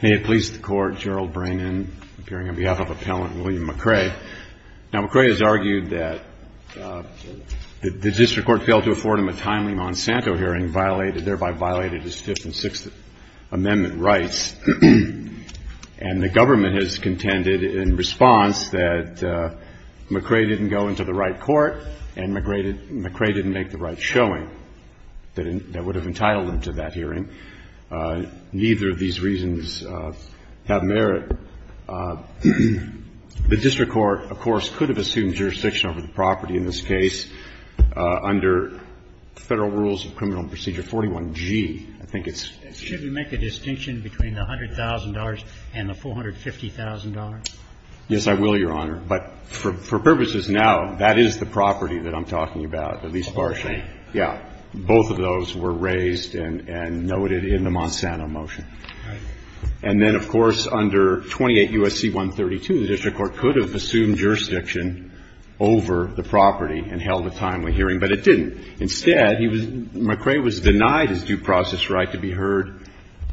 Now, McCray has argued that the district court failed to afford him a timely Monsanto hearing, thereby violated his Fifth and Sixth Amendment rights, and the government has contended, in response, that McCray didn't go into the right court and McCray didn't make the right showing that would have entitled him to that hearing. Neither of these reasons have merit. The district court, of course, could have assumed jurisdiction over the property in this case under Federal Rules of Criminal Procedure 41G. I think it's – Should we make a distinction between the $100,000 and the $450,000? Yes, I will, Your Honor. But for purposes now, that is the property that I'm talking about, at least partially. Right. Yeah. Both of those were raised and noted in the Monsanto motion. Right. And then, of course, under 28 U.S.C. 132, the district court could have assumed jurisdiction over the property and held a timely hearing, but it didn't. Instead, he was – McCray was denied his due process right to be heard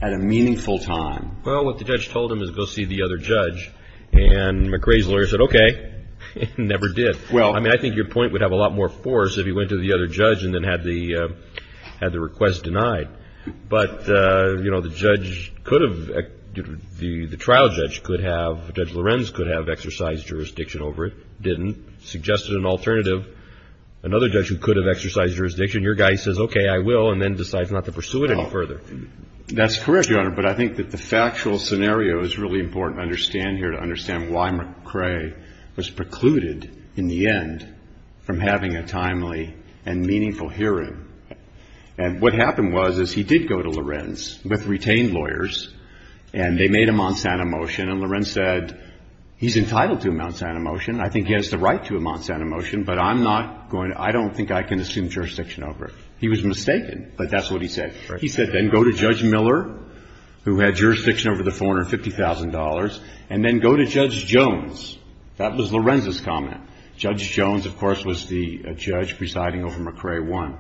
at a meaningful time. Well, what the judge told him is go see the other judge, and McCray's lawyer said, okay. It never did. Well – I mean, I think your point would have a lot more force if he went to the other judge and then had the request denied. But, you know, the judge could have – the trial judge could have – Judge Lorenz could have exercised jurisdiction over it. Didn't. Suggested an alternative. Another judge who could have exercised jurisdiction, your guy says, okay, I will, and then decides not to pursue it any further. That's correct, Your Honor. But I think that the factual scenario is really important to understand here, to understand why McCray was precluded in the end from having a timely and meaningful hearing. And what happened was, is he did go to Lorenz with retained lawyers, and they made a Monsanto motion. And Lorenz said, he's entitled to a Monsanto motion. I think he has the right to a Monsanto motion, but I'm not going to – I don't think I can assume jurisdiction over it. He was mistaken, but that's what he said. He said, then go to Judge Miller, who had jurisdiction over the $450,000, and then go to Judge Jones. That was Lorenz's comment. Judge Jones, of course, was the judge presiding over McCray 1.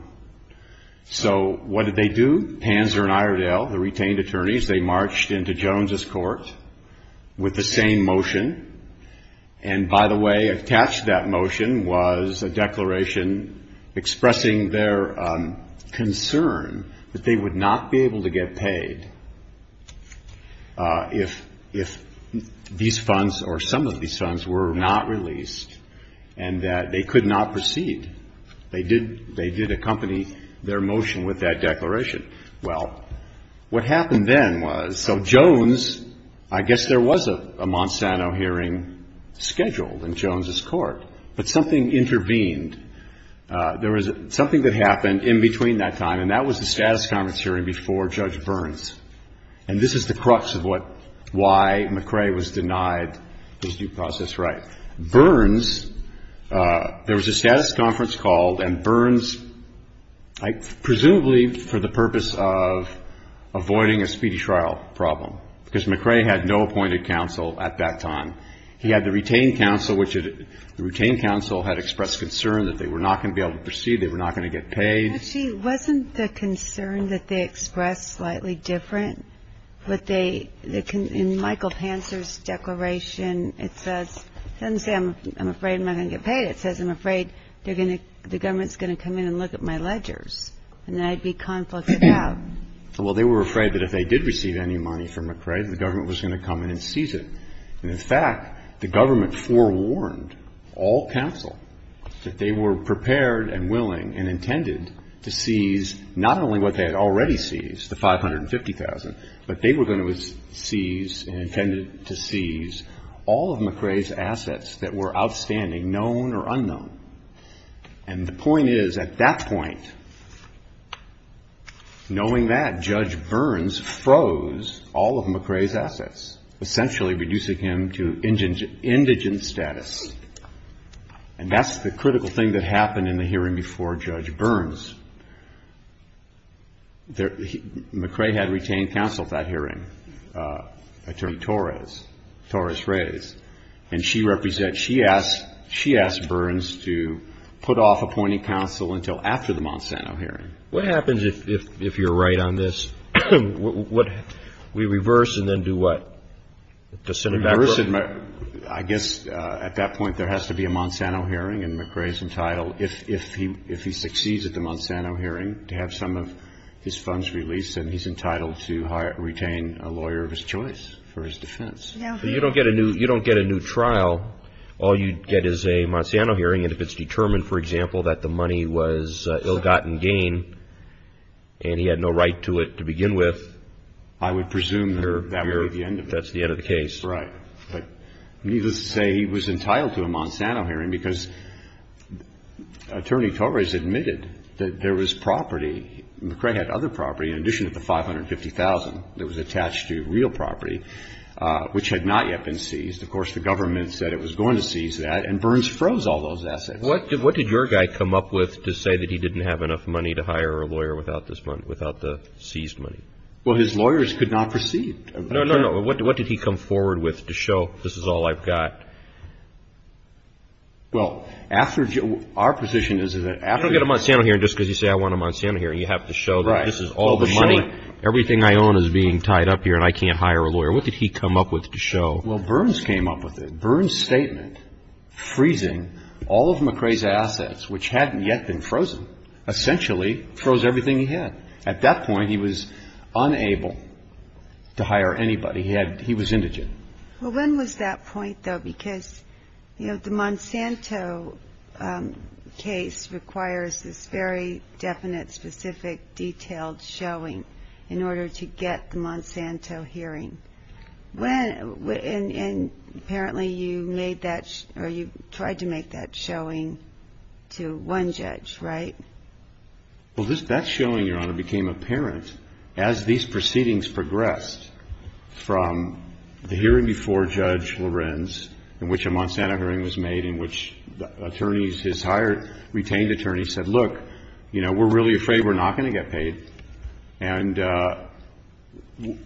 So what did they do? Panzer and Iredell, the retained attorneys, they marched into Jones's court with the same motion. And by the way, attached to that motion was a declaration expressing their concern that they would not be able to get paid if these funds, or some of these funds, were not released, and that they could not proceed. They did accompany their motion with that declaration. Well, what happened then was – so Jones, I guess there was a Monsanto hearing scheduled in Jones's court, but something intervened. There was something that happened in between that time, and that was the status conference hearing before Judge Burns. And this is the crux of what – why McCray was denied his due process right. Burns – there was a status conference called, and Burns, presumably for the purpose of avoiding a speedy trial problem, because McCray had no appointed counsel at that time. He had the retained counsel, which the retained counsel had expressed concern that they were not going to be able to proceed, they were not going to get paid. Actually, wasn't the concern that they expressed slightly different? In Michael Panzer's declaration, it says – it doesn't say, I'm afraid I'm not going to get paid. It says, I'm afraid they're going to – the government's going to come in and look at my ledgers, and I'd be conflicted out. Well, they were afraid that if they did receive any money from McCray, the government was going to come in and seize it. And, in fact, the government forewarned all counsel that they were prepared and willing and intended to seize not only what they had already seized, the $550,000, but they were going to seize and intended to seize all of McCray's assets that were outstanding, known or unknown. And the point is, at that point, knowing that, Judge Burns froze all of McCray's assets, essentially reducing him to indigent status. And that's the critical thing that happened in the hearing before Judge Burns. McCray had retained counsel at that hearing, Attorney Torres, Torres-Reyes. And she asked Burns to put off appointing counsel until after the Monsanto hearing. What happens if you're right on this? We reverse and then do what? I guess, at that point, there has to be a Monsanto hearing, and McCray's entitled – if he succeeds at the Monsanto hearing – to have some of his funds released, and he's entitled to retain a lawyer of his choice for his defense. You don't get a new trial. All you get is a Monsanto hearing, and if it's determined, for example, that the money was ill-gotten gain and he had no right to it to begin with, I would presume that's the end of the case. Right. But needless to say, he was entitled to a Monsanto hearing because Attorney Torres admitted that there was property – McCray had other property in addition to the $550,000 that was attached to real property, which had not yet been seized. Of course, the government said it was going to seize that, and Burns froze all those assets. What did your guy come up with to say that he didn't have enough money to hire a lawyer without the seized money? Well, his lawyers could not proceed. No, no, no. What did he come forward with to show this is all I've got? Well, our position is that after – You don't get a Monsanto hearing just because you say, I want a Monsanto hearing. You have to show that this is all the money. Everything I own is being tied up here, and I can't hire a lawyer. What did he come up with to show? Well, Burns came up with it. Burns' statement freezing all of McCray's assets, which hadn't yet been frozen, essentially froze everything he had. At that point, he was unable to hire anybody. He was indigent. Well, when was that point, though? Because the Monsanto case requires this very definite, specific, detailed showing in order to get the Monsanto hearing. And apparently you made that – or you tried to make that showing to one judge, right? Well, that showing, Your Honor, became apparent as these proceedings progressed from the hearing before Judge Lorenz in which a Monsanto hearing was made in which attorneys, his hired, retained attorneys said, look, you know, we're really afraid we're not going to get paid, and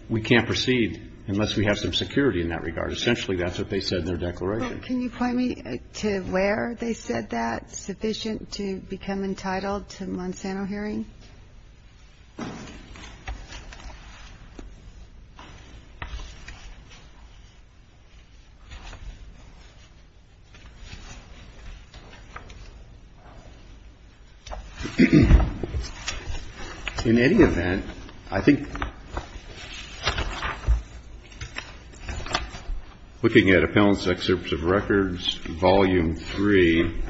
we can't proceed unless we have some security in that regard. Essentially, that's what they said in their declaration. Well, can you point me to where they said that's sufficient to become entitled to a Monsanto hearing? In any event, I think looking at Appellant's Excerpts of Records, Volume 3,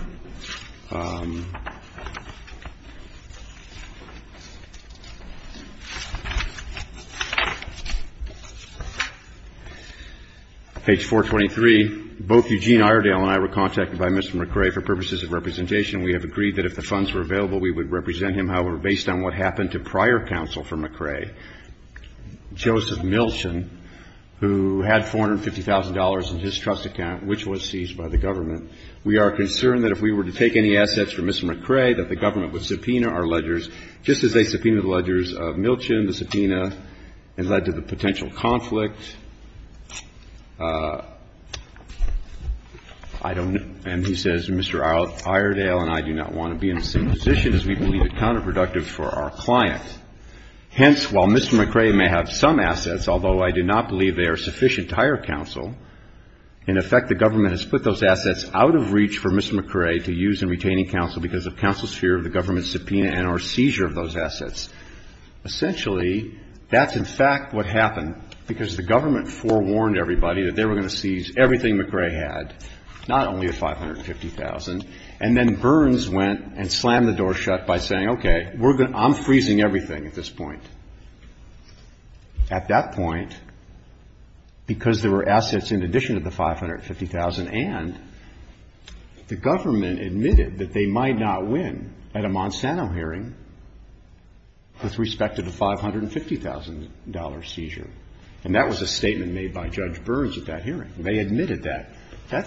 page 423, both Eugene Iredale and I were contacted by Mr. McCrae for purposes of representation. We have agreed that if the funds were available, we would represent him, however, based on what happened to prior counsel for McCrae, Joseph Milton, who had $450,000 in his trust account, which was seized by the government. We are concerned that if we were to take any assets from Mr. McCrae, that the government would subpoena our ledgers, just as they subpoenaed the ledgers of Milton, the subpoena and led to the potential conflict. I don't know. And he says, Mr. Iredale and I do not want to be in the same position as we believe it counterproductive for our client. Hence, while Mr. McCrae may have some assets, although I do not believe they are sufficient to hire counsel, in effect the government has put those assets out of reach for Mr. McCrae to use in retaining counsel because of counsel's fear of the government's subpoena and our seizure of those assets. Essentially, that's in fact what happened, because the government forewarned everybody that they were going to seize everything McCrae had, not only the $550,000. And then Burns went and slammed the door shut by saying, okay, I'm freezing everything at this point. At that point, because there were assets in addition to the $550,000 and the government admitted that they might not win at a Monsanto hearing with respect to the $550,000 seizure. And that was a statement made by Judge Burns at that hearing. They admitted that.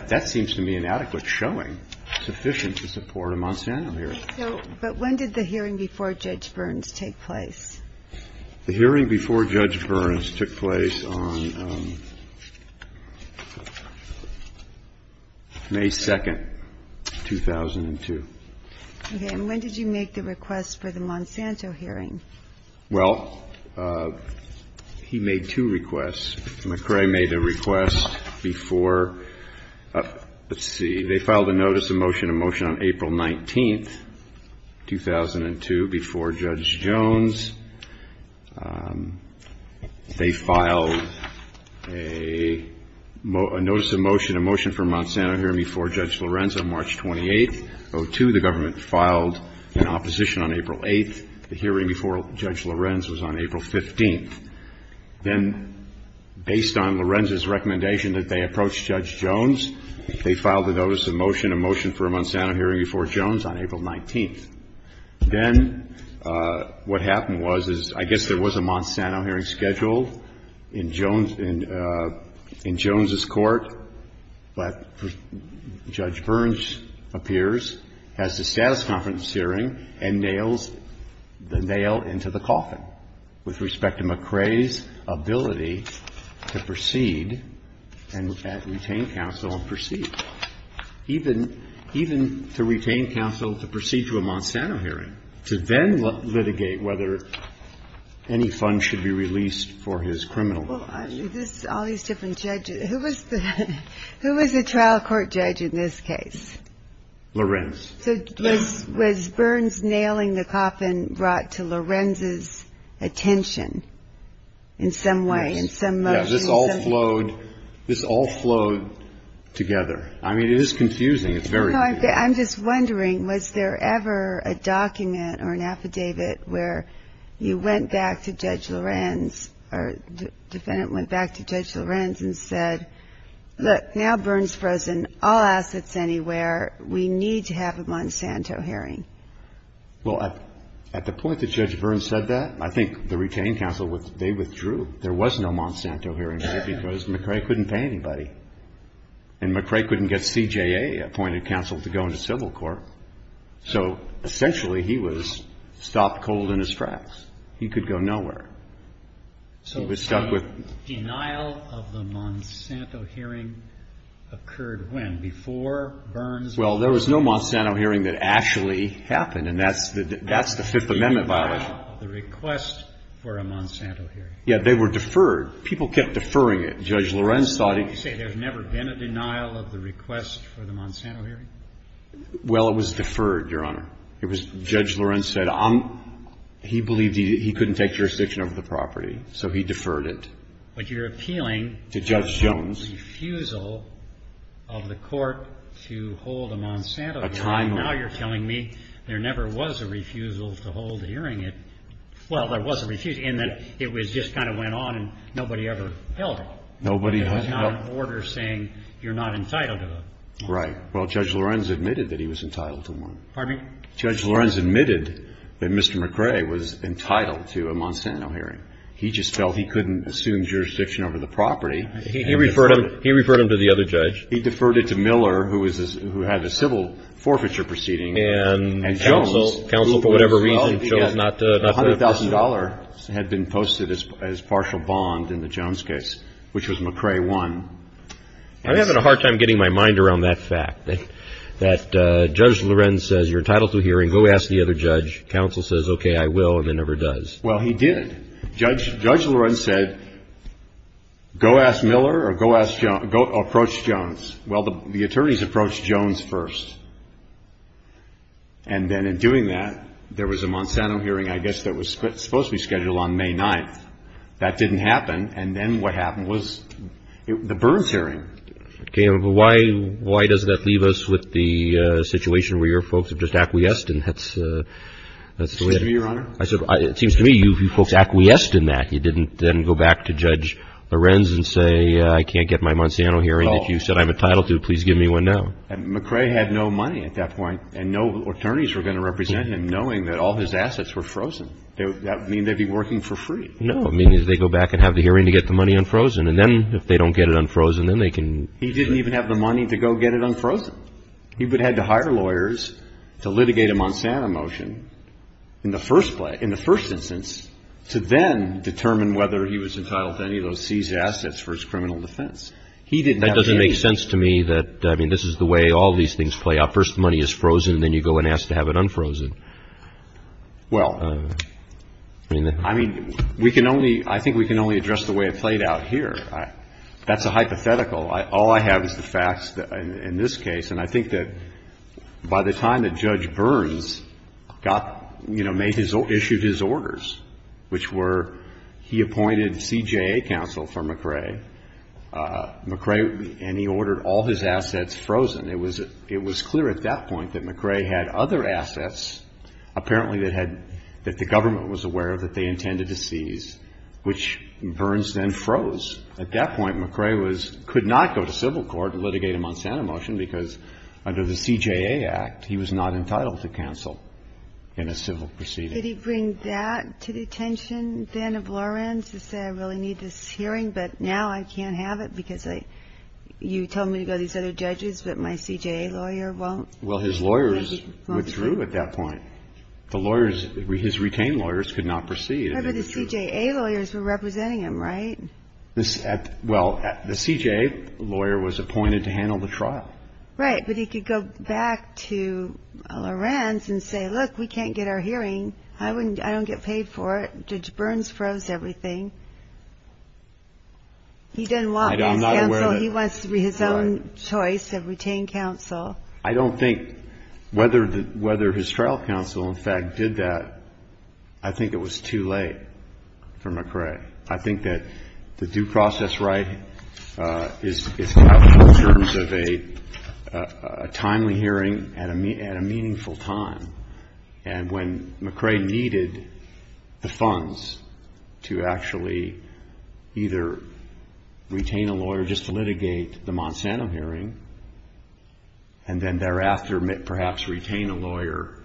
That seems to me an adequate showing, sufficient to support a Monsanto hearing. So, but when did the hearing before Judge Burns take place? The hearing before Judge Burns took place on May 2nd, 2002. Okay. And when did you make the request for the Monsanto hearing? Well, he made two requests. McCrae made a request before, let's see, they filed a notice of motion to motion on April 19th, 2002, before Judge Jones. They filed a notice of motion, a motion for a Monsanto hearing before Judge Lorenz on March 28th, 02. The government filed an opposition on April 8th. The hearing before Judge Lorenz was on April 15th. Then, based on Lorenz's recommendation that they approach Judge Jones, they filed a notice of motion, a motion for a Monsanto hearing before Jones on April 19th. Then what happened was, is I guess there was a Monsanto hearing scheduled in Jones, in Jones's court, but Judge Burns appears, has the status conference hearing, and nails the nail into the coffin with respect to McCrae's ability to proceed and retain counsel and proceed, even to retain counsel to proceed to a Monsanto hearing, to then litigate whether any funds should be released for his criminal. Well, this is all these different judges. Who was the trial court judge in this case? Lorenz. So was Burns nailing the coffin brought to Lorenz's attention in some way, in some motion? Yes. This all flowed, this all flowed together. I mean, it is confusing. It's very confusing. No, I'm just wondering, was there ever a document or an affidavit where you went back to Judge Lorenz, or the defendant went back to Judge Lorenz and said, look, now Burns frozen, all assets anywhere, we need to have a Monsanto hearing? Well, at the point that Judge Burns said that, I think the retained counsel, they withdrew. There was no Monsanto hearing here because McCrae couldn't pay anybody. And McCrae couldn't get CJA appointed counsel to go into civil court. So essentially he was stopped cold in his tracks. He could go nowhere. So the denial of the Monsanto hearing occurred when? Before Burns? Well, there was no Monsanto hearing that actually happened, and that's the Fifth Amendment violation. Denial of the request for a Monsanto hearing? Yeah. They were deferred. People kept deferring it. Judge Lorenz thought he could. You say there's never been a denial of the request for the Monsanto hearing? Well, it was deferred, Your Honor. It was, Judge Lorenz said, he believed he couldn't take jurisdiction over the property, so he deferred it. But you're appealing to Judge Jones. A refusal of the court to hold a Monsanto hearing. A title. Now you're telling me there never was a refusal to hold a hearing. Well, there was a refusal in that it just kind of went on and nobody ever held it. Nobody held it. There was not an order saying you're not entitled to it. Right. Well, Judge Lorenz admitted that he was entitled to one. Pardon me? Judge Lorenz admitted that Mr. McRae was entitled to a Monsanto hearing. He just felt he couldn't assume jurisdiction over the property. He referred him to the other judge. He deferred it to Miller, who had a civil forfeiture proceeding. And Jones. Counsel, for whatever reason, chose not to. $100,000 had been posted as partial bond in the Jones case, which was McRae won. I'm having a hard time getting my mind around that fact. That Judge Lorenz says you're entitled to a hearing. Go ask the other judge. Counsel says, okay, I will. And it never does. Well, he did. Judge Lorenz said go ask Miller or go approach Jones. Well, the attorneys approached Jones first. And then in doing that, there was a Monsanto hearing, I guess, that was supposed to be scheduled on May 9th. That didn't happen. And then what happened was the Burns hearing. Okay. Why does that leave us with the situation where your folks have just acquiesced and that's the way it is? It seems to me you folks acquiesced in that. You didn't then go back to Judge Lorenz and say I can't get my Monsanto hearing. If you said I'm entitled to it, please give me one now. And McRae had no money at that point. And no attorneys were going to represent him knowing that all his assets were frozen. That would mean they'd be working for free. No. It means they go back and have the hearing to get the money unfrozen. And then if they don't get it unfrozen, then they can go. He didn't even have the money to go get it unfrozen. He would have had to hire lawyers to litigate a Monsanto motion in the first instance to then determine whether he was entitled to any of those seized assets for his criminal defense. He didn't have the money. That doesn't make sense to me that, I mean, this is the way all these things play out. First the money is frozen and then you go and ask to have it unfrozen. Well, I mean, we can only, I think we can only address the way it played out here. That's a hypothetical. All I have is the facts in this case. And I think that by the time that Judge Burns got, you know, issued his orders, which were he appointed CJA counsel for McRae, McRae, and he ordered all his assets frozen, it was clear at that point that McRae had other assets apparently that had, that the government was aware of that they intended to seize, which Burns then froze. At that point, McRae was, could not go to civil court to litigate a Monsanto motion because under the CJA Act, he was not entitled to counsel in a civil proceeding. Did he bring that to the attention then of Lawrence to say I really need this hearing, but now I can't have it because you told me to go to these other judges, but my CJA lawyer won't? Well, his lawyers withdrew at that point. The lawyers, his retained lawyers could not proceed. But the CJA lawyers were representing him, right? Well, the CJA lawyer was appointed to handle the trial. Right, but he could go back to Lawrence and say, look, we can't get our hearing. I don't get paid for it. Judge Burns froze everything. He didn't want his counsel. He wants his own choice of retained counsel. I don't think whether his trial counsel, in fact, did that, I think it was too late for McRae. I think that the due process right is valid in terms of a timely hearing at a meaningful time. And when McRae needed the funds to actually either retain a lawyer just to litigate the Monsanto hearing and then thereafter perhaps retain a lawyer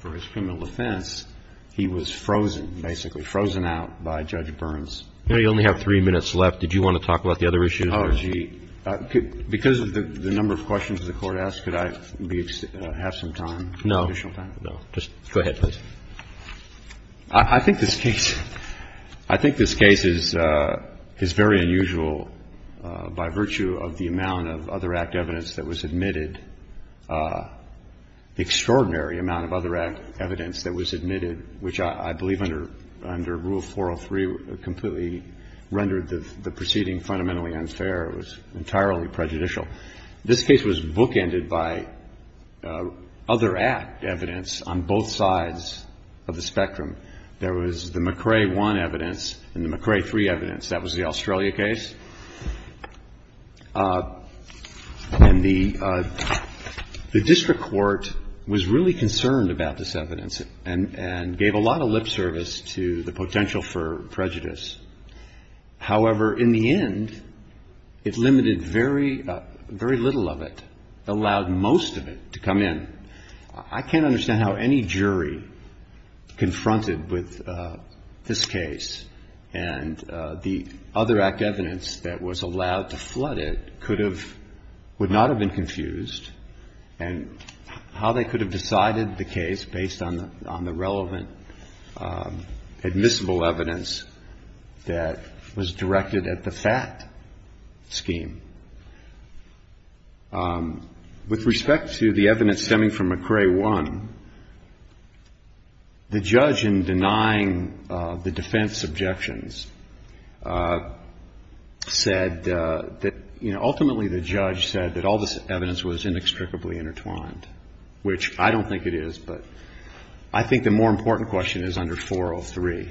for his criminal offense, he was frozen, basically frozen out by Judge Burns. You only have three minutes left. Did you want to talk about the other issues? Because of the number of questions the Court asked, could I have some time? No. Just go ahead, please. I think this case, I think this case is very unusual by virtue of the amount of other act evidence that was admitted, the extraordinary amount of other act evidence that was admitted, which I believe under Rule 403 completely rendered the proceeding fundamentally unfair. It was entirely prejudicial. This case was bookended by other act evidence on both sides of the spectrum. There was the McRae 1 evidence and the McRae 3 evidence. That was the Australia case. And the district court was really concerned about this evidence and gave a lot of lip service to the potential for prejudice. However, in the end, it limited very, very little of it, allowed most of it to come in. I can't understand how any jury confronted with this case and the other act evidence that was allowed to flood it could have, would not have been confused and how they could have decided the case based on the relevant admissible evidence that was directed at the FAT scheme. With respect to the evidence stemming from McRae 1, the judge in denying the defense objections said that, you know, ultimately the judge said that all this evidence was inextricably intertwined, which I don't think it is. But I think the more important question is under 403.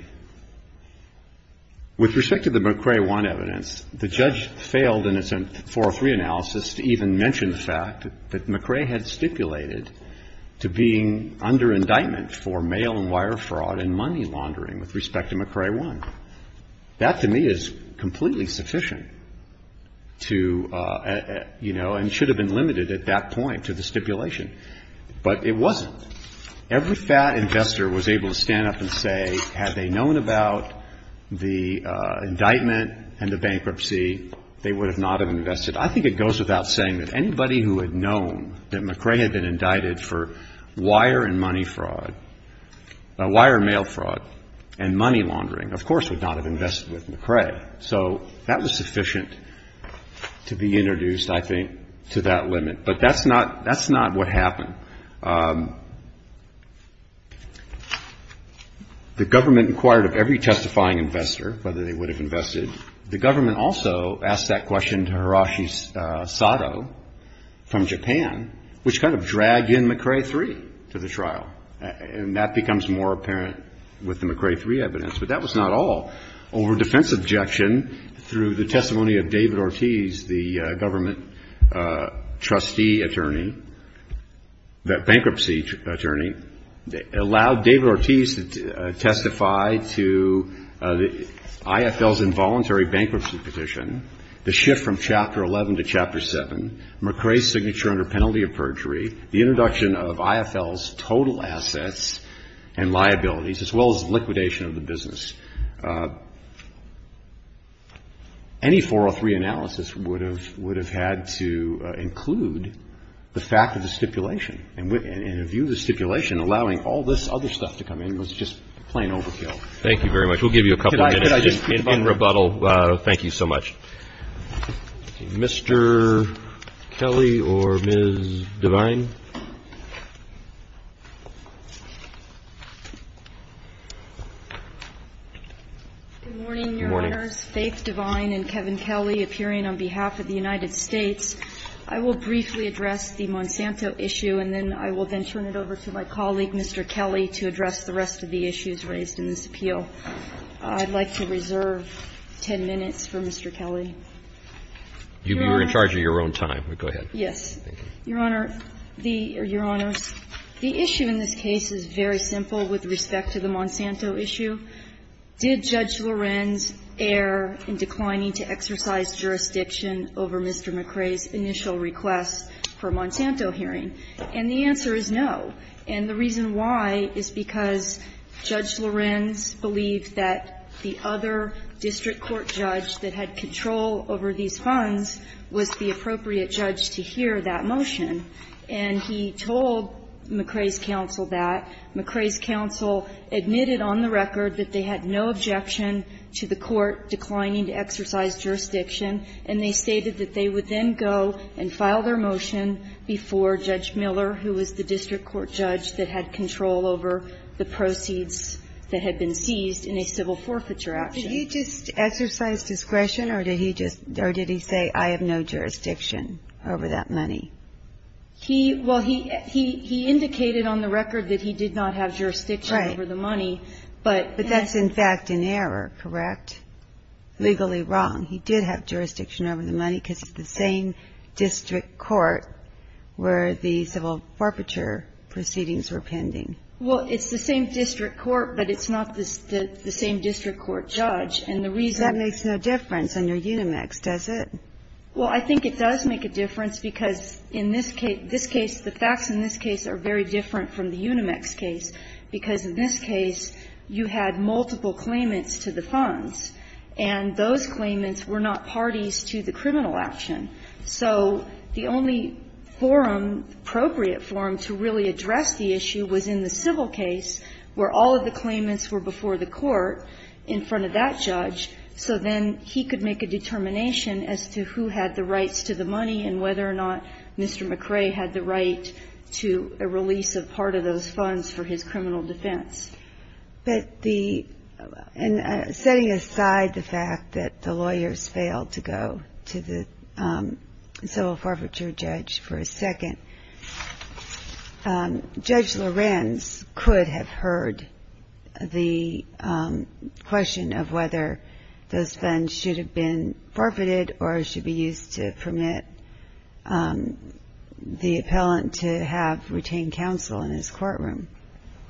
With respect to the McRae 1 evidence, the judge failed in its own 403 analysis to even mention the fact that McRae had stipulated to being under indictment for mail and wire fraud and money laundering with respect to McRae 1. That, to me, is completely sufficient to, you know, and should have been limited at that point to the stipulation. But it wasn't. Every FAT investor was able to stand up and say, had they known about the indictment and the bankruptcy, they would have not have invested. I think it goes without saying that anybody who had known that McRae had been indicted for wire and money fraud, wire mail fraud and money laundering, of course, would not have invested with McRae. So that was sufficient to be introduced, I think, to that limit. But that's not what happened. The government inquired of every testifying investor whether they would have invested. The government also asked that question to Hiroshi Sato from Japan, which kind of dragged in McRae 3 to the trial. And that becomes more apparent with the McRae 3 evidence. But that was not all. Over defense objection, through the testimony of David Ortiz, the government trustee attorney, the bankruptcy attorney, allowed David Ortiz to testify to the IFL's involuntary bankruptcy petition, the shift from Chapter 11 to Chapter 7, McRae's signature under penalty of perjury, the introduction of IFL's total assets and liabilities, as well as liquidation of the business. Any 403 analysis would have had to include the fact of the stipulation. And in view of the stipulation, allowing all this other stuff to come in was just plain overkill. Thank you very much. We'll give you a couple minutes in rebuttal. Thank you so much. Mr. Kelly or Ms. Devine? Good morning, Your Honors. Faith Devine and Kevin Kelly appearing on behalf of the United States. I will briefly address the Monsanto issue, and then I will then turn it over to my colleague, Mr. Kelly, to address the rest of the issues raised in this appeal. So I'd like to reserve 10 minutes for Mr. Kelly. You're in charge of your own time. Go ahead. Yes. Your Honor, the issue in this case is very simple with respect to the Monsanto issue. Did Judge Lorenz err in declining to exercise jurisdiction over Mr. McRae's initial request for a Monsanto hearing? And the answer is no. And the reason why is because Judge Lorenz believed that the other district court judge that had control over these funds was the appropriate judge to hear that motion. And he told McRae's counsel that. McRae's counsel admitted on the record that they had no objection to the court declining to exercise jurisdiction, and they stated that they would then go and file their own request for a Monsanto hearing. And the reason why is because the other district court judge that had control over the proceeds that had been seized in a civil forfeiture action. Did he just exercise discretion, or did he just or did he say I have no jurisdiction over that money? He, well, he indicated on the record that he did not have jurisdiction over the money. Right. But that's in fact an error, correct? Legally wrong. He did have jurisdiction over the money because it's the same district court where the civil forfeiture proceedings were pending. Well, it's the same district court, but it's not the same district court judge. And the reason that makes no difference under Unimex, does it? Well, I think it does make a difference because in this case, this case, the facts in this case are very different from the Unimex case, because in this case you had multiple claimants to the funds, and those claimants were not parties to the criminal action. So the only forum, appropriate forum, to really address the issue was in the civil case where all of the claimants were before the court in front of that judge, so then he could make a determination as to who had the rights to the money and whether or not Mr. McRae had the right to a release of part of those funds for his criminal defense. But the – and setting aside the fact that the lawyers failed to go to the civil forfeiture judge for a second, Judge Lorenz could have heard the question of whether those funds should have been forfeited or should be used to permit the appellant to have retained counsel in his courtroom.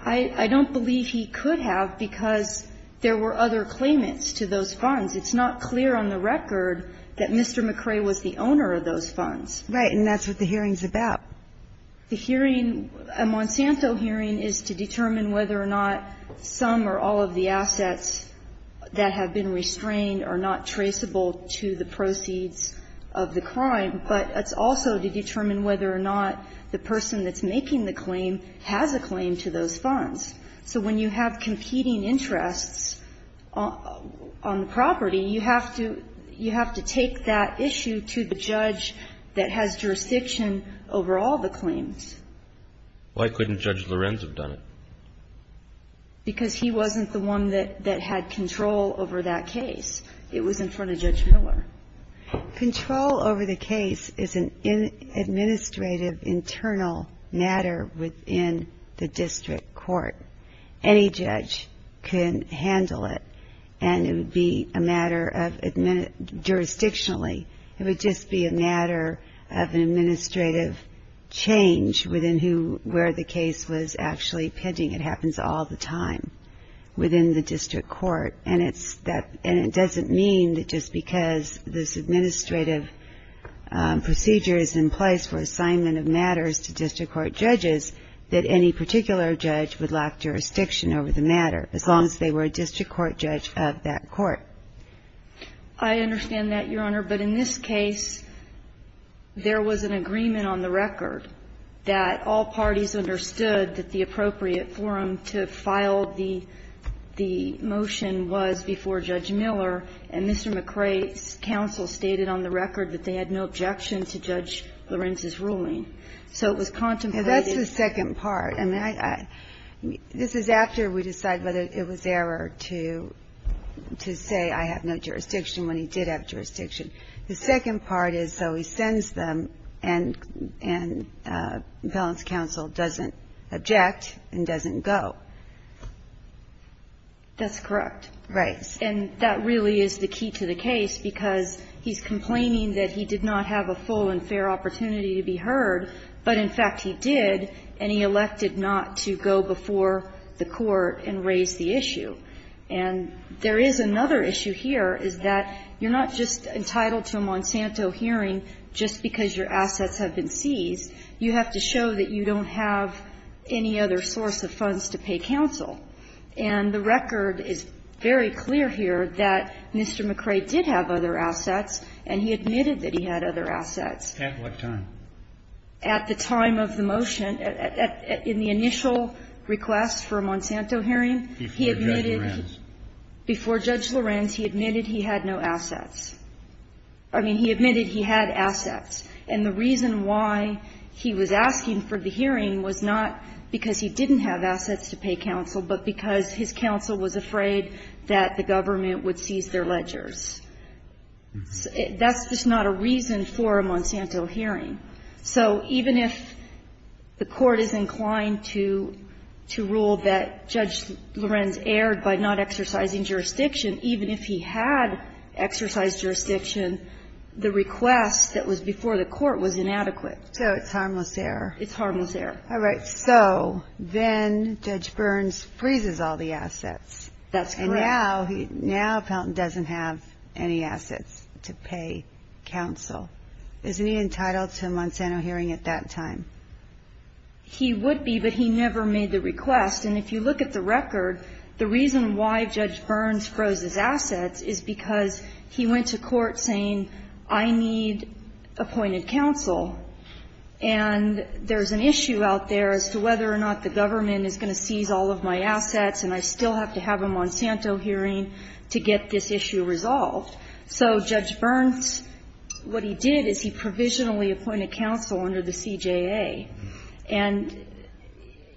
I don't believe he could have because there were other claimants to those funds. It's not clear on the record that Mr. McRae was the owner of those funds. Right. And that's what the hearing's about. The hearing, a Monsanto hearing, is to determine whether or not some or all of the assets that have been restrained are not traceable to the proceeds of the crime, But it's also to determine whether or not the person that's making the claim has a claim to those funds. So when you have competing interests on the property, you have to take that issue to the judge that has jurisdiction over all the claims. Why couldn't Judge Lorenz have done it? Because he wasn't the one that had control over that case. It was in front of Judge Miller. Control over the case is an administrative internal matter within the district court. Any judge can handle it. And it would be a matter of jurisdictionally. It would just be a matter of an administrative change within who, where the case was actually pending. It happens all the time within the district court. And it doesn't mean that just because this administrative procedure is in place for assignment of matters to district court judges that any particular judge would lack jurisdiction over the matter, as long as they were a district court judge of that court. I understand that, Your Honor. But in this case, there was an agreement on the record that all parties understood that the appropriate forum to file the motion was before Judge Miller, and Mr. McCrae's counsel stated on the record that they had no objection to Judge Lorenz's ruling. So it was contemplated. That's the second part. I mean, this is after we decide whether it was error to say I have no jurisdiction when he did have jurisdiction. The second part is, so he sends them, and balance counsel doesn't object and doesn't go. That's correct. Right. And that really is the key to the case, because he's complaining that he did not have a full and fair opportunity to be heard, but, in fact, he did, and he elected not to go before the court and raise the issue. And there is another issue here, is that you're not just entitled to a Monsanto hearing just because your assets have been seized. You have to show that you don't have any other source of funds to pay counsel. And the record is very clear here that Mr. McCrae did have other assets, and he admitted that he had other assets. At what time? At the time of the motion, in the initial request for a Monsanto hearing, he admitted before Judge Lorenz, he admitted he had no assets. I mean, he admitted he had assets. And the reason why he was asking for the hearing was not because he didn't have assets to pay counsel, but because his counsel was afraid that the government would seize their ledgers. That's just not a reason for a Monsanto hearing. So even if the court is inclined to rule that Judge Lorenz erred by not exercising jurisdiction, even if he had exercised jurisdiction, the request that was before the court was inadequate. So it's harmless error. It's harmless error. All right. So then Judge Burns freezes all the assets. That's correct. And now Fountain doesn't have any assets to pay counsel. Isn't he entitled to a Monsanto hearing at that time? He would be, but he never made the request. And if you look at the record, the reason why Judge Burns froze his assets is because he went to court saying, I need appointed counsel. And there's an issue out there as to whether or not the government is going to seize all of my assets, and I still have to have a Monsanto hearing to get this issue resolved. So Judge Burns, what he did is he provisionally appointed counsel under the CJA. And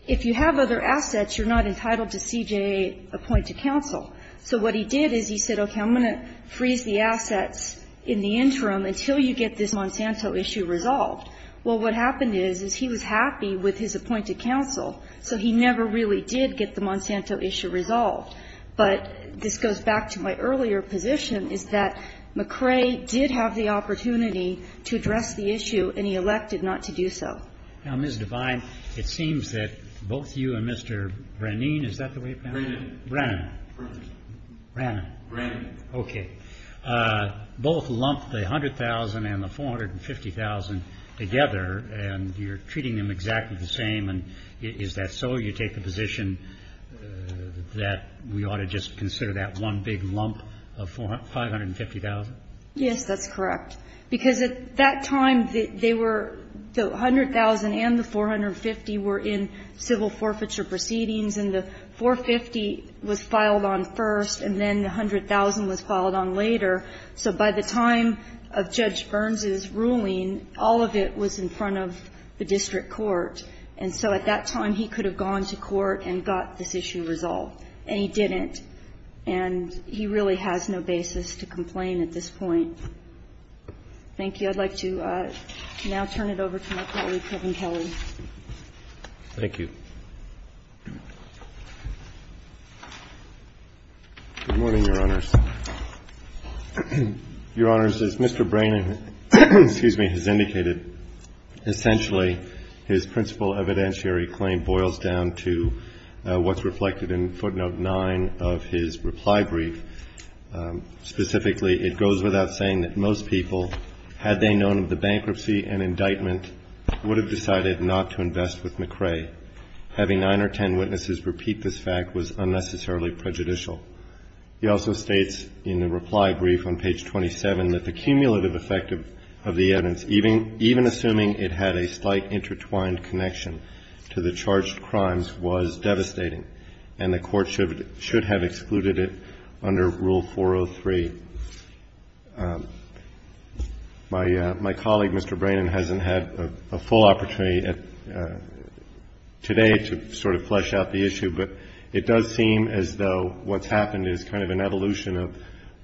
if you have other assets, you're not entitled to CJA-appointed counsel. So what he did is he said, okay, I'm going to freeze the assets in the interim until you get this Monsanto issue resolved. Well, what happened is, is he was happy with his appointed counsel, so he never really did get the Monsanto issue resolved. But this goes back to my earlier position, is that McCrae did have the opportunity to address the issue, and he elected not to do so. Now, Ms. Devine, it seems that both you and Mr. Brannan, is that the right name? Brannan. Brannan. Brannan. Brannan. Okay. Both lumped the $100,000 and the $450,000 together, and you're treating them exactly the same. And is that so? You take the position that we ought to just consider that one big lump of $550,000? Yes, that's correct. Because at that time, they were the $100,000 and the $450,000 were in civil forfeiture proceedings, and the $450,000 was filed on first, and then the $100,000 was filed on later. So by the time of Judge Burns's ruling, all of it was in front of the district court, and so at that time, he could have gone to court and got this issue resolved, and he didn't. And he really has no basis to complain at this point. Thank you. I'd like to now turn it over to my colleague, Kevin Kelly. Thank you. Good morning, Your Honors. Your Honors, as Mr. Brannon, excuse me, has indicated, essentially, his principal evidentiary claim boils down to what's reflected in footnote 9 of his reply brief. Specifically, it goes without saying that most people, had they known of the bankruptcy and indictment, would have decided not to invest with McRae. Having 9 or 10 witnesses repeat this fact was unnecessarily prejudicial. He also states in the reply brief on page 27 that the cumulative effect of the evidence, even assuming it had a slight intertwined connection to the charged crimes, was devastating, and the Court should have excluded it under Rule 403. My colleague, Mr. Brannon, hasn't had a full opportunity today to sort of flesh out the evolution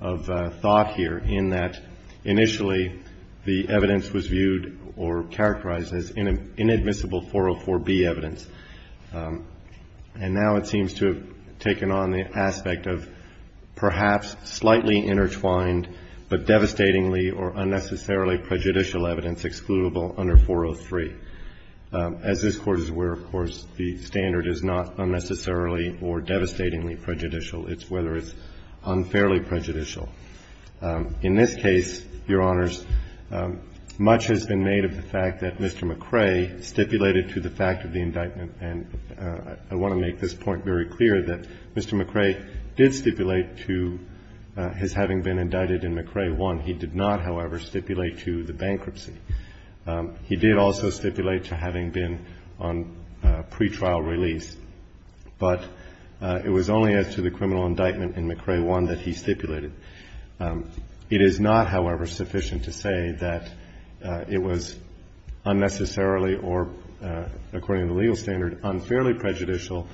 of thought here in that initially the evidence was viewed or characterized as inadmissible 404B evidence. And now it seems to have taken on the aspect of perhaps slightly intertwined, but devastatingly or unnecessarily prejudicial evidence excludable under 403. As this Court is aware, of course, the standard is not unnecessarily or devastatingly prejudicial. It's whether it's unfairly prejudicial. In this case, Your Honors, much has been made of the fact that Mr. McRae stipulated to the fact of the indictment. And I want to make this point very clear, that Mr. McRae did stipulate to his having been indicted in McRae 1. He did not, however, stipulate to the bankruptcy. He did also stipulate to having been on pretrial release, but it was only as to the criminal indictment in McRae 1 that he stipulated. It is not, however, sufficient to say that it was unnecessarily or, according to the legal standard, unfairly prejudicial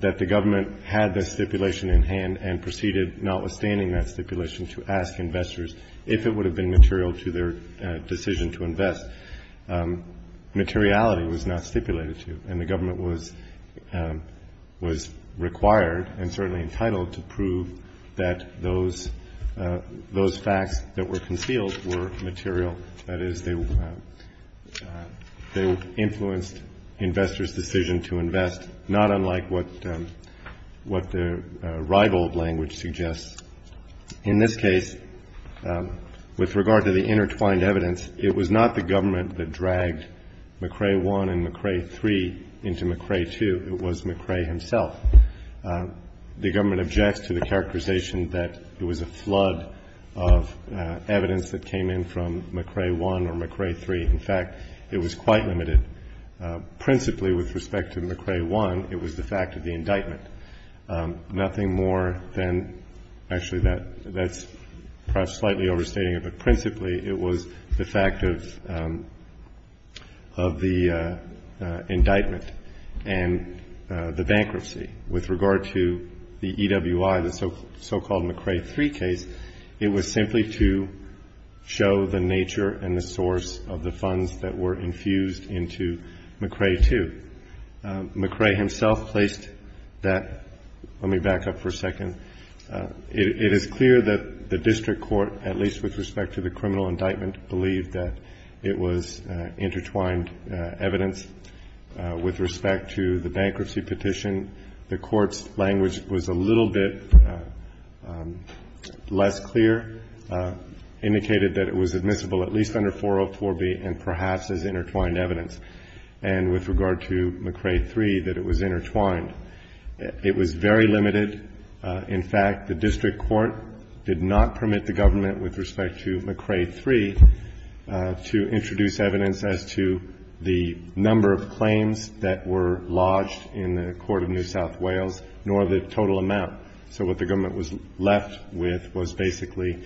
that the government had the stipulation in hand and proceeded, notwithstanding that stipulation, to ask investors if it would have been material to their decision to invest. Materiality was not stipulated to, and the government was required and certainly entitled to prove that those facts that were concealed were material. That is, they influenced investors' decision to invest, not unlike what the rival language suggests. In this case, with regard to the intertwined evidence, it was not the government that dragged McRae 1 and McRae 3 into McRae 2. It was McRae himself. The government objects to the characterization that it was a flood of evidence that came in from McRae 1 or McRae 3. In fact, it was quite limited. Principally, with respect to McRae 1, it was the fact of the indictment. Nothing more than actually that's perhaps slightly overstating it, but principally it was the fact of the indictment and the bankruptcy. With regard to the EWI, the so-called McRae 3 case, it was simply to show the nature and the source of the funds that were infused into McRae 2. McRae himself placed that. Let me back up for a second. It is clear that the district court, at least with respect to the criminal indictment, believed that it was intertwined evidence. With respect to the bankruptcy petition, the court's language was a little bit less clear, indicated that it was admissible at least under 404B and perhaps as intertwined evidence, and with regard to McRae 3, that it was intertwined. It was very limited. In fact, the district court did not permit the government with respect to McRae 3 to introduce evidence as to the number of claims that were lodged in the court of New South Wales, nor the total amount. So what the government was left with was basically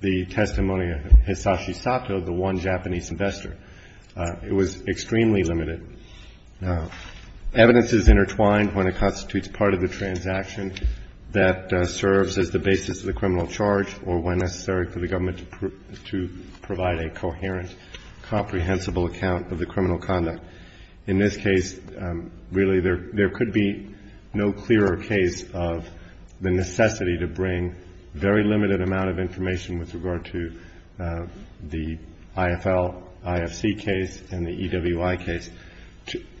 the testimony of Hisashi Sato, the one Japanese investor. It was extremely limited. Now, evidence is intertwined when it constitutes part of the transaction that serves as the basis of the criminal charge or when necessary for the government to provide a coherent, comprehensible account of the criminal conduct. In this case, really there could be no clearer case of the necessity to bring very limited amount of information with regard to the IFL, IFC case and the EWI case.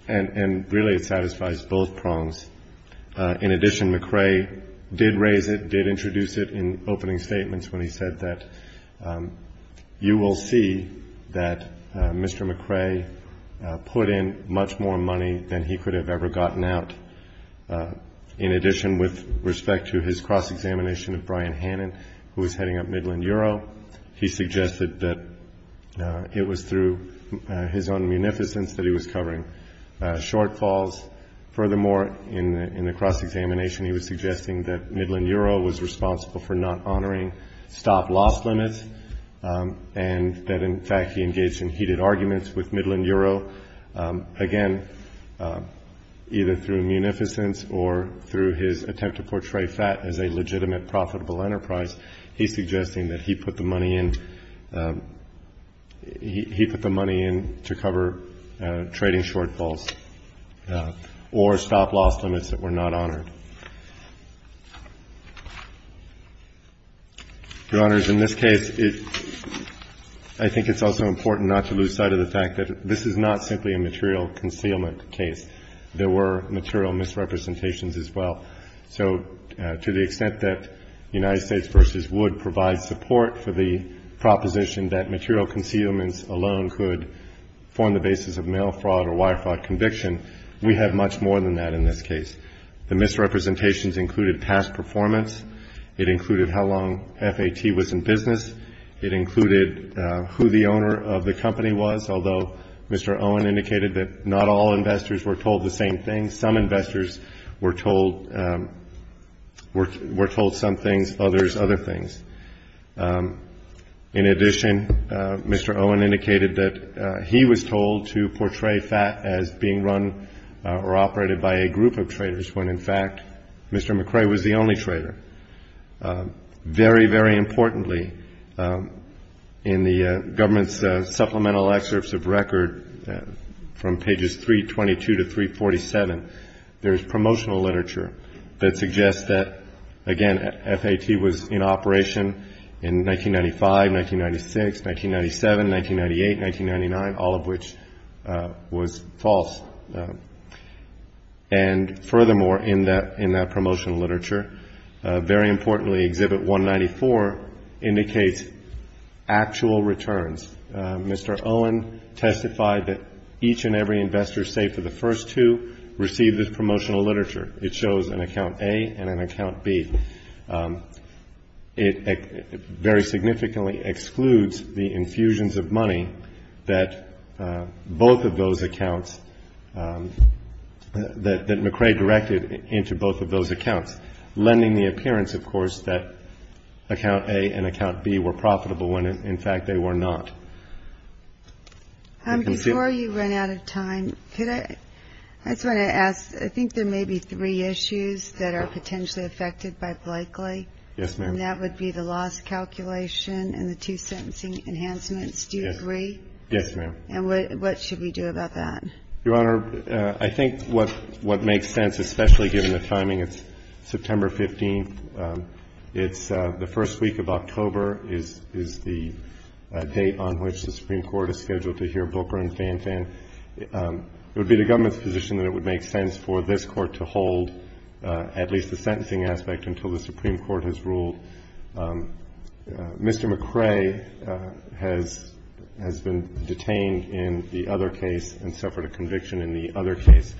And really it satisfies both prongs. In addition, McRae did raise it, did introduce it in opening statements when he said that you will see that Mr. McRae put in much more money than he could have ever gotten out. In addition, with respect to his cross-examination of Brian Hannan, who was heading up Midland Euro, he suggested that it was through his own munificence that he was covering shortfalls. Furthermore, in the cross-examination he was suggesting that Midland Euro was responsible for not honoring stop-loss limits and that in fact he engaged in heated arguments with Midland Euro. Again, either through munificence or through his attempt to portray FAT as a legitimate profitable enterprise, he's suggesting that he put the money in to cover trading shortfalls or stop-loss limits that were not honored. Your Honors, in this case, I think it's also important not to lose sight of the fact that this is not simply a material concealment case. There were material misrepresentations as well. So to the extent that United States v. Wood provides support for the proposition that material concealments alone could form the basis of mail fraud or wire fraud conviction, we have much more than that in this case. The misrepresentations included past performance. It included how long FAT was in business. It included who the owner of the company was, although Mr. Owen indicated that not all investors were told the same thing. Some investors were told some things, others other things. In addition, Mr. Owen indicated that he was told to portray FAT as being run or operated by a group of investors when, in fact, Mr. McCrae was the only trader. Very, very importantly, in the government's supplemental excerpts of record from pages 322 to 347, there's promotional literature that suggests that, again, FAT was in operation in 1995, 1996, 1997, 1998, 1999, all of which was false. And furthermore, in that promotional literature, very importantly, Exhibit 194 indicates actual returns. Mr. Owen testified that each and every investor saved for the first two received this promotional literature. It shows an account A and an account B. It very significantly excludes the infusions of money that both of those accounts, both of those accounts, that McCrae directed into both of those accounts, lending the appearance, of course, that account A and account B were profitable when, in fact, they were not. Before you run out of time, I just want to ask, I think there may be three issues that are potentially affected by Blakely. Yes, ma'am. And that would be the loss calculation and the two sentencing enhancements. Do you agree? Yes, ma'am. And what should we do about that? Your Honor, I think what makes sense, especially given the timing, it's September 15th. It's the first week of October is the date on which the Supreme Court is scheduled to hear Booker and Fanfan. It would be the government's position that it would make sense for this Court to hold at least the sentencing aspect until the Supreme Court has ruled. Mr. McCrae has been detained in the other case and suffered a conviction in the other case.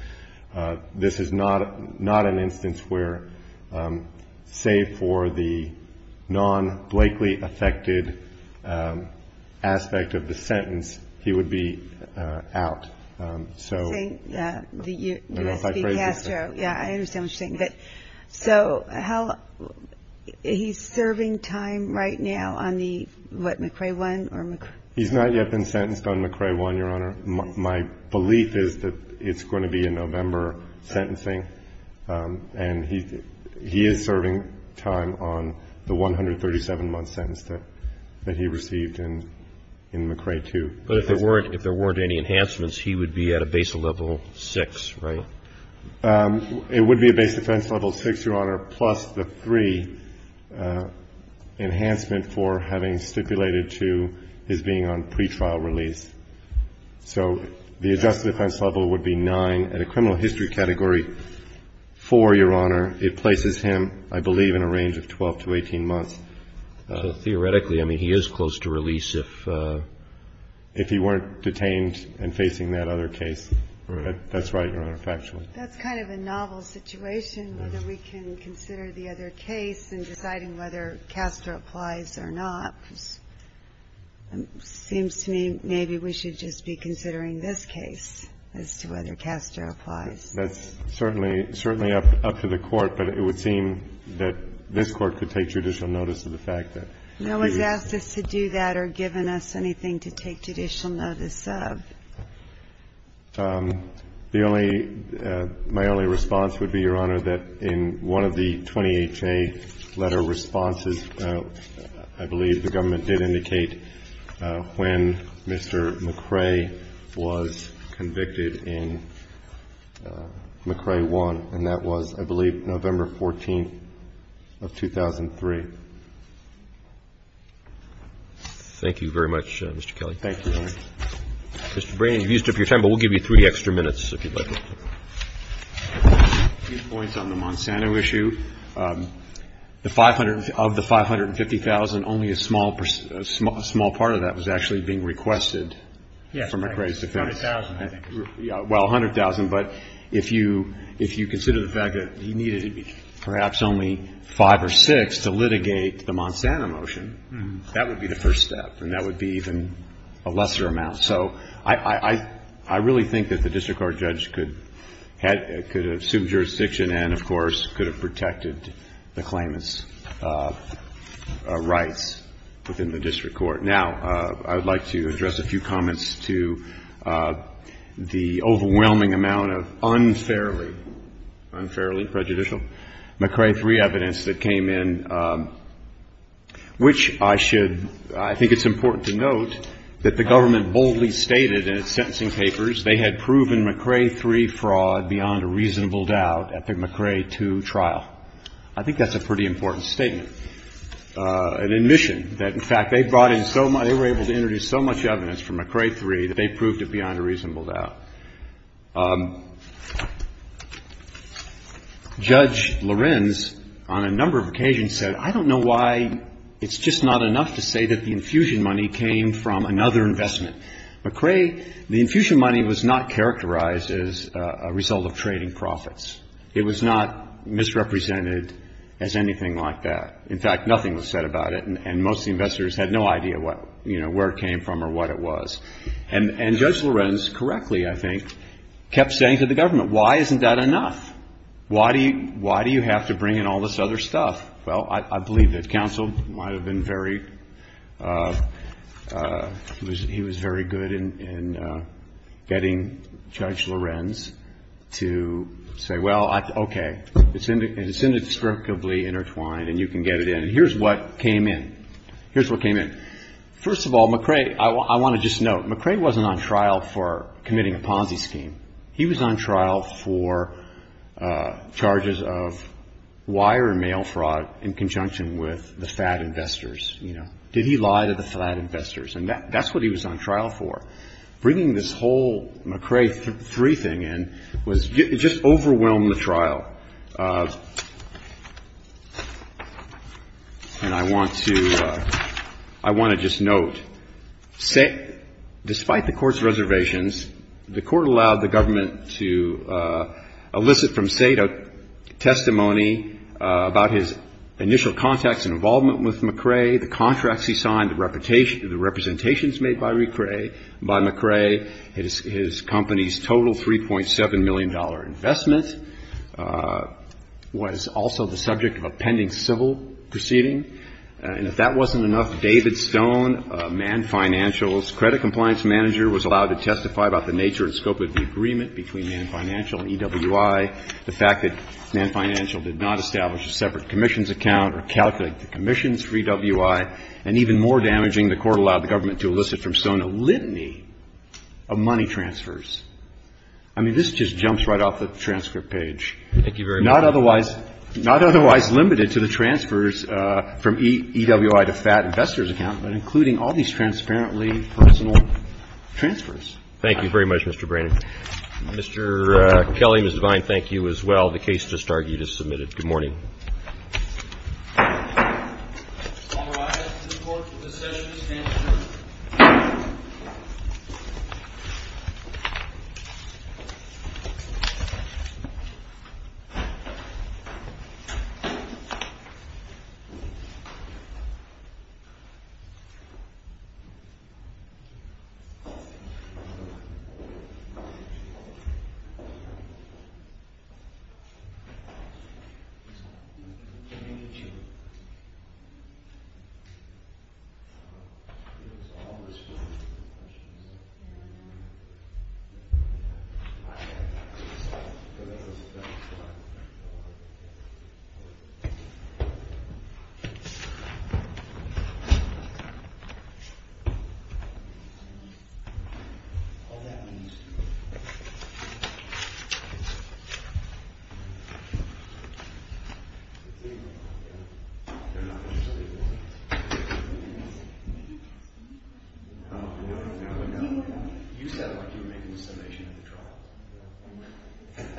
This is not an instance where, save for the non-Blakely-affected aspect of the sentence, he would be out. I don't know if I phrased it correctly. Yes, I understand what you're saying. So he's serving time right now on the, what, McCrae 1? He's not yet been sentenced on McCrae 1, Your Honor. My belief is that it's going to be a November sentencing. And he is serving time on the 137-month sentence that he received in McCrae 2. But if there weren't any enhancements, he would be at a base level 6, right? It would be a base defense level 6, Your Honor, plus the three enhancement for having stipulated to his being on pretrial release. So the adjusted defense level would be 9. At a criminal history category, 4, Your Honor, it places him, I believe, in a range of 12 to 18 months. Theoretically, I mean, he is close to release if he weren't detained and facing that other case. That's right, Your Honor, factually. That's kind of a novel situation, whether we can consider the other case and deciding whether Castor applies or not, because it seems to me maybe we should just be considering this case as to whether Castor applies. That's certainly up to the Court, but it would seem that this Court could take judicial notice of the fact that we would. No one has asked us to do that or given us anything to take judicial notice of. The only – my only response would be, Your Honor, that in one of the 20HA letter responses, I believe the government did indicate when Mr. McCrae was convicted in McCrae 1, and that was, I believe, November 14th of 2003. Thank you very much, Mr. Kelly. Thank you, Your Honor. Mr. Brannon, you've used up your time, but we'll give you three extra minutes if you'd like. A few points on the Monsanto issue. The 500 – of the 550,000, only a small – a small part of that was actually being requested from McCrae's defense. Yes, 100,000, I think. Well, 100,000, but if you – if you consider the fact that he needed perhaps only five or six to litigate the Monsanto motion, that would be the first step, and that would be even a lesser amount. So I really think that the district court judge could have assumed jurisdiction and, of course, could have protected the claimant's rights within the district court. Now, I would like to address a few comments to the overwhelming amount of unfairly – unfairly prejudicial – McCrae 3 evidence that came in, which I should – I think it's important to note that the government boldly stated in its sentencing papers they had proven McCrae 3 fraud beyond a reasonable doubt at the McCrae 2 trial. I think that's a pretty important statement, an admission that, in fact, they brought in so – they were able to introduce so much evidence for McCrae 3 that they proved it beyond a reasonable doubt. Judge Lorenz, on a number of occasions, said, I don't know why it's just not enough to say that the infusion money came from another investment. McCrae – the infusion money was not characterized as a result of trading profits. It was not misrepresented as anything like that. In fact, nothing was said about it, and most of the investors had no idea what – you know, where it came from or what it was. And Judge Lorenz, correctly, I think, kept saying to the government, why isn't that enough? Why do you – why do you have to bring in all this other stuff? Well, I believe that counsel might have been very – he was very good in getting Judge Lorenz to say, well, okay, it's indescribably intertwined and you can get it in. Here's what came in. Here's what came in. First of all, McCrae – I want to just note, McCrae wasn't on trial for committing a Ponzi scheme. He was on trial for charges of wire and mail fraud in conjunction with the fad investors. You know, did he lie to the fad investors? And that's what he was on trial for. Bringing this whole McCrae 3 thing in was – it just overwhelmed the trial. And I want to – I want to just note, despite the Court's reservations, the Court allowed the government to elicit from Sato testimony about his initial contacts and involvement with McCrae, the contracts he signed, the representations made by McCrae, his company's total $3.7 million investment. Was also the subject of a pending civil proceeding. And if that wasn't enough, David Stone, Mann Financial's credit compliance manager, was allowed to testify about the nature and scope of the agreement between Mann Financial and EWI, the fact that Mann Financial did not establish a separate commissions account or calculate the commissions for EWI, and even more damaging, the Court allowed the government to elicit from Stone a litany of money transfers. I mean, this just jumps right off the transcript page. Thank you very much. Not otherwise – not otherwise limited to the transfers from EWI to fad investors' account, but including all these transparently personal transfers. Thank you very much, Mr. Brannon. Mr. Kelly, Ms. Devine, thank you as well. The case to start is submitted. All rise to report for this session and adjourn. Thank you. Thank you. Thank you.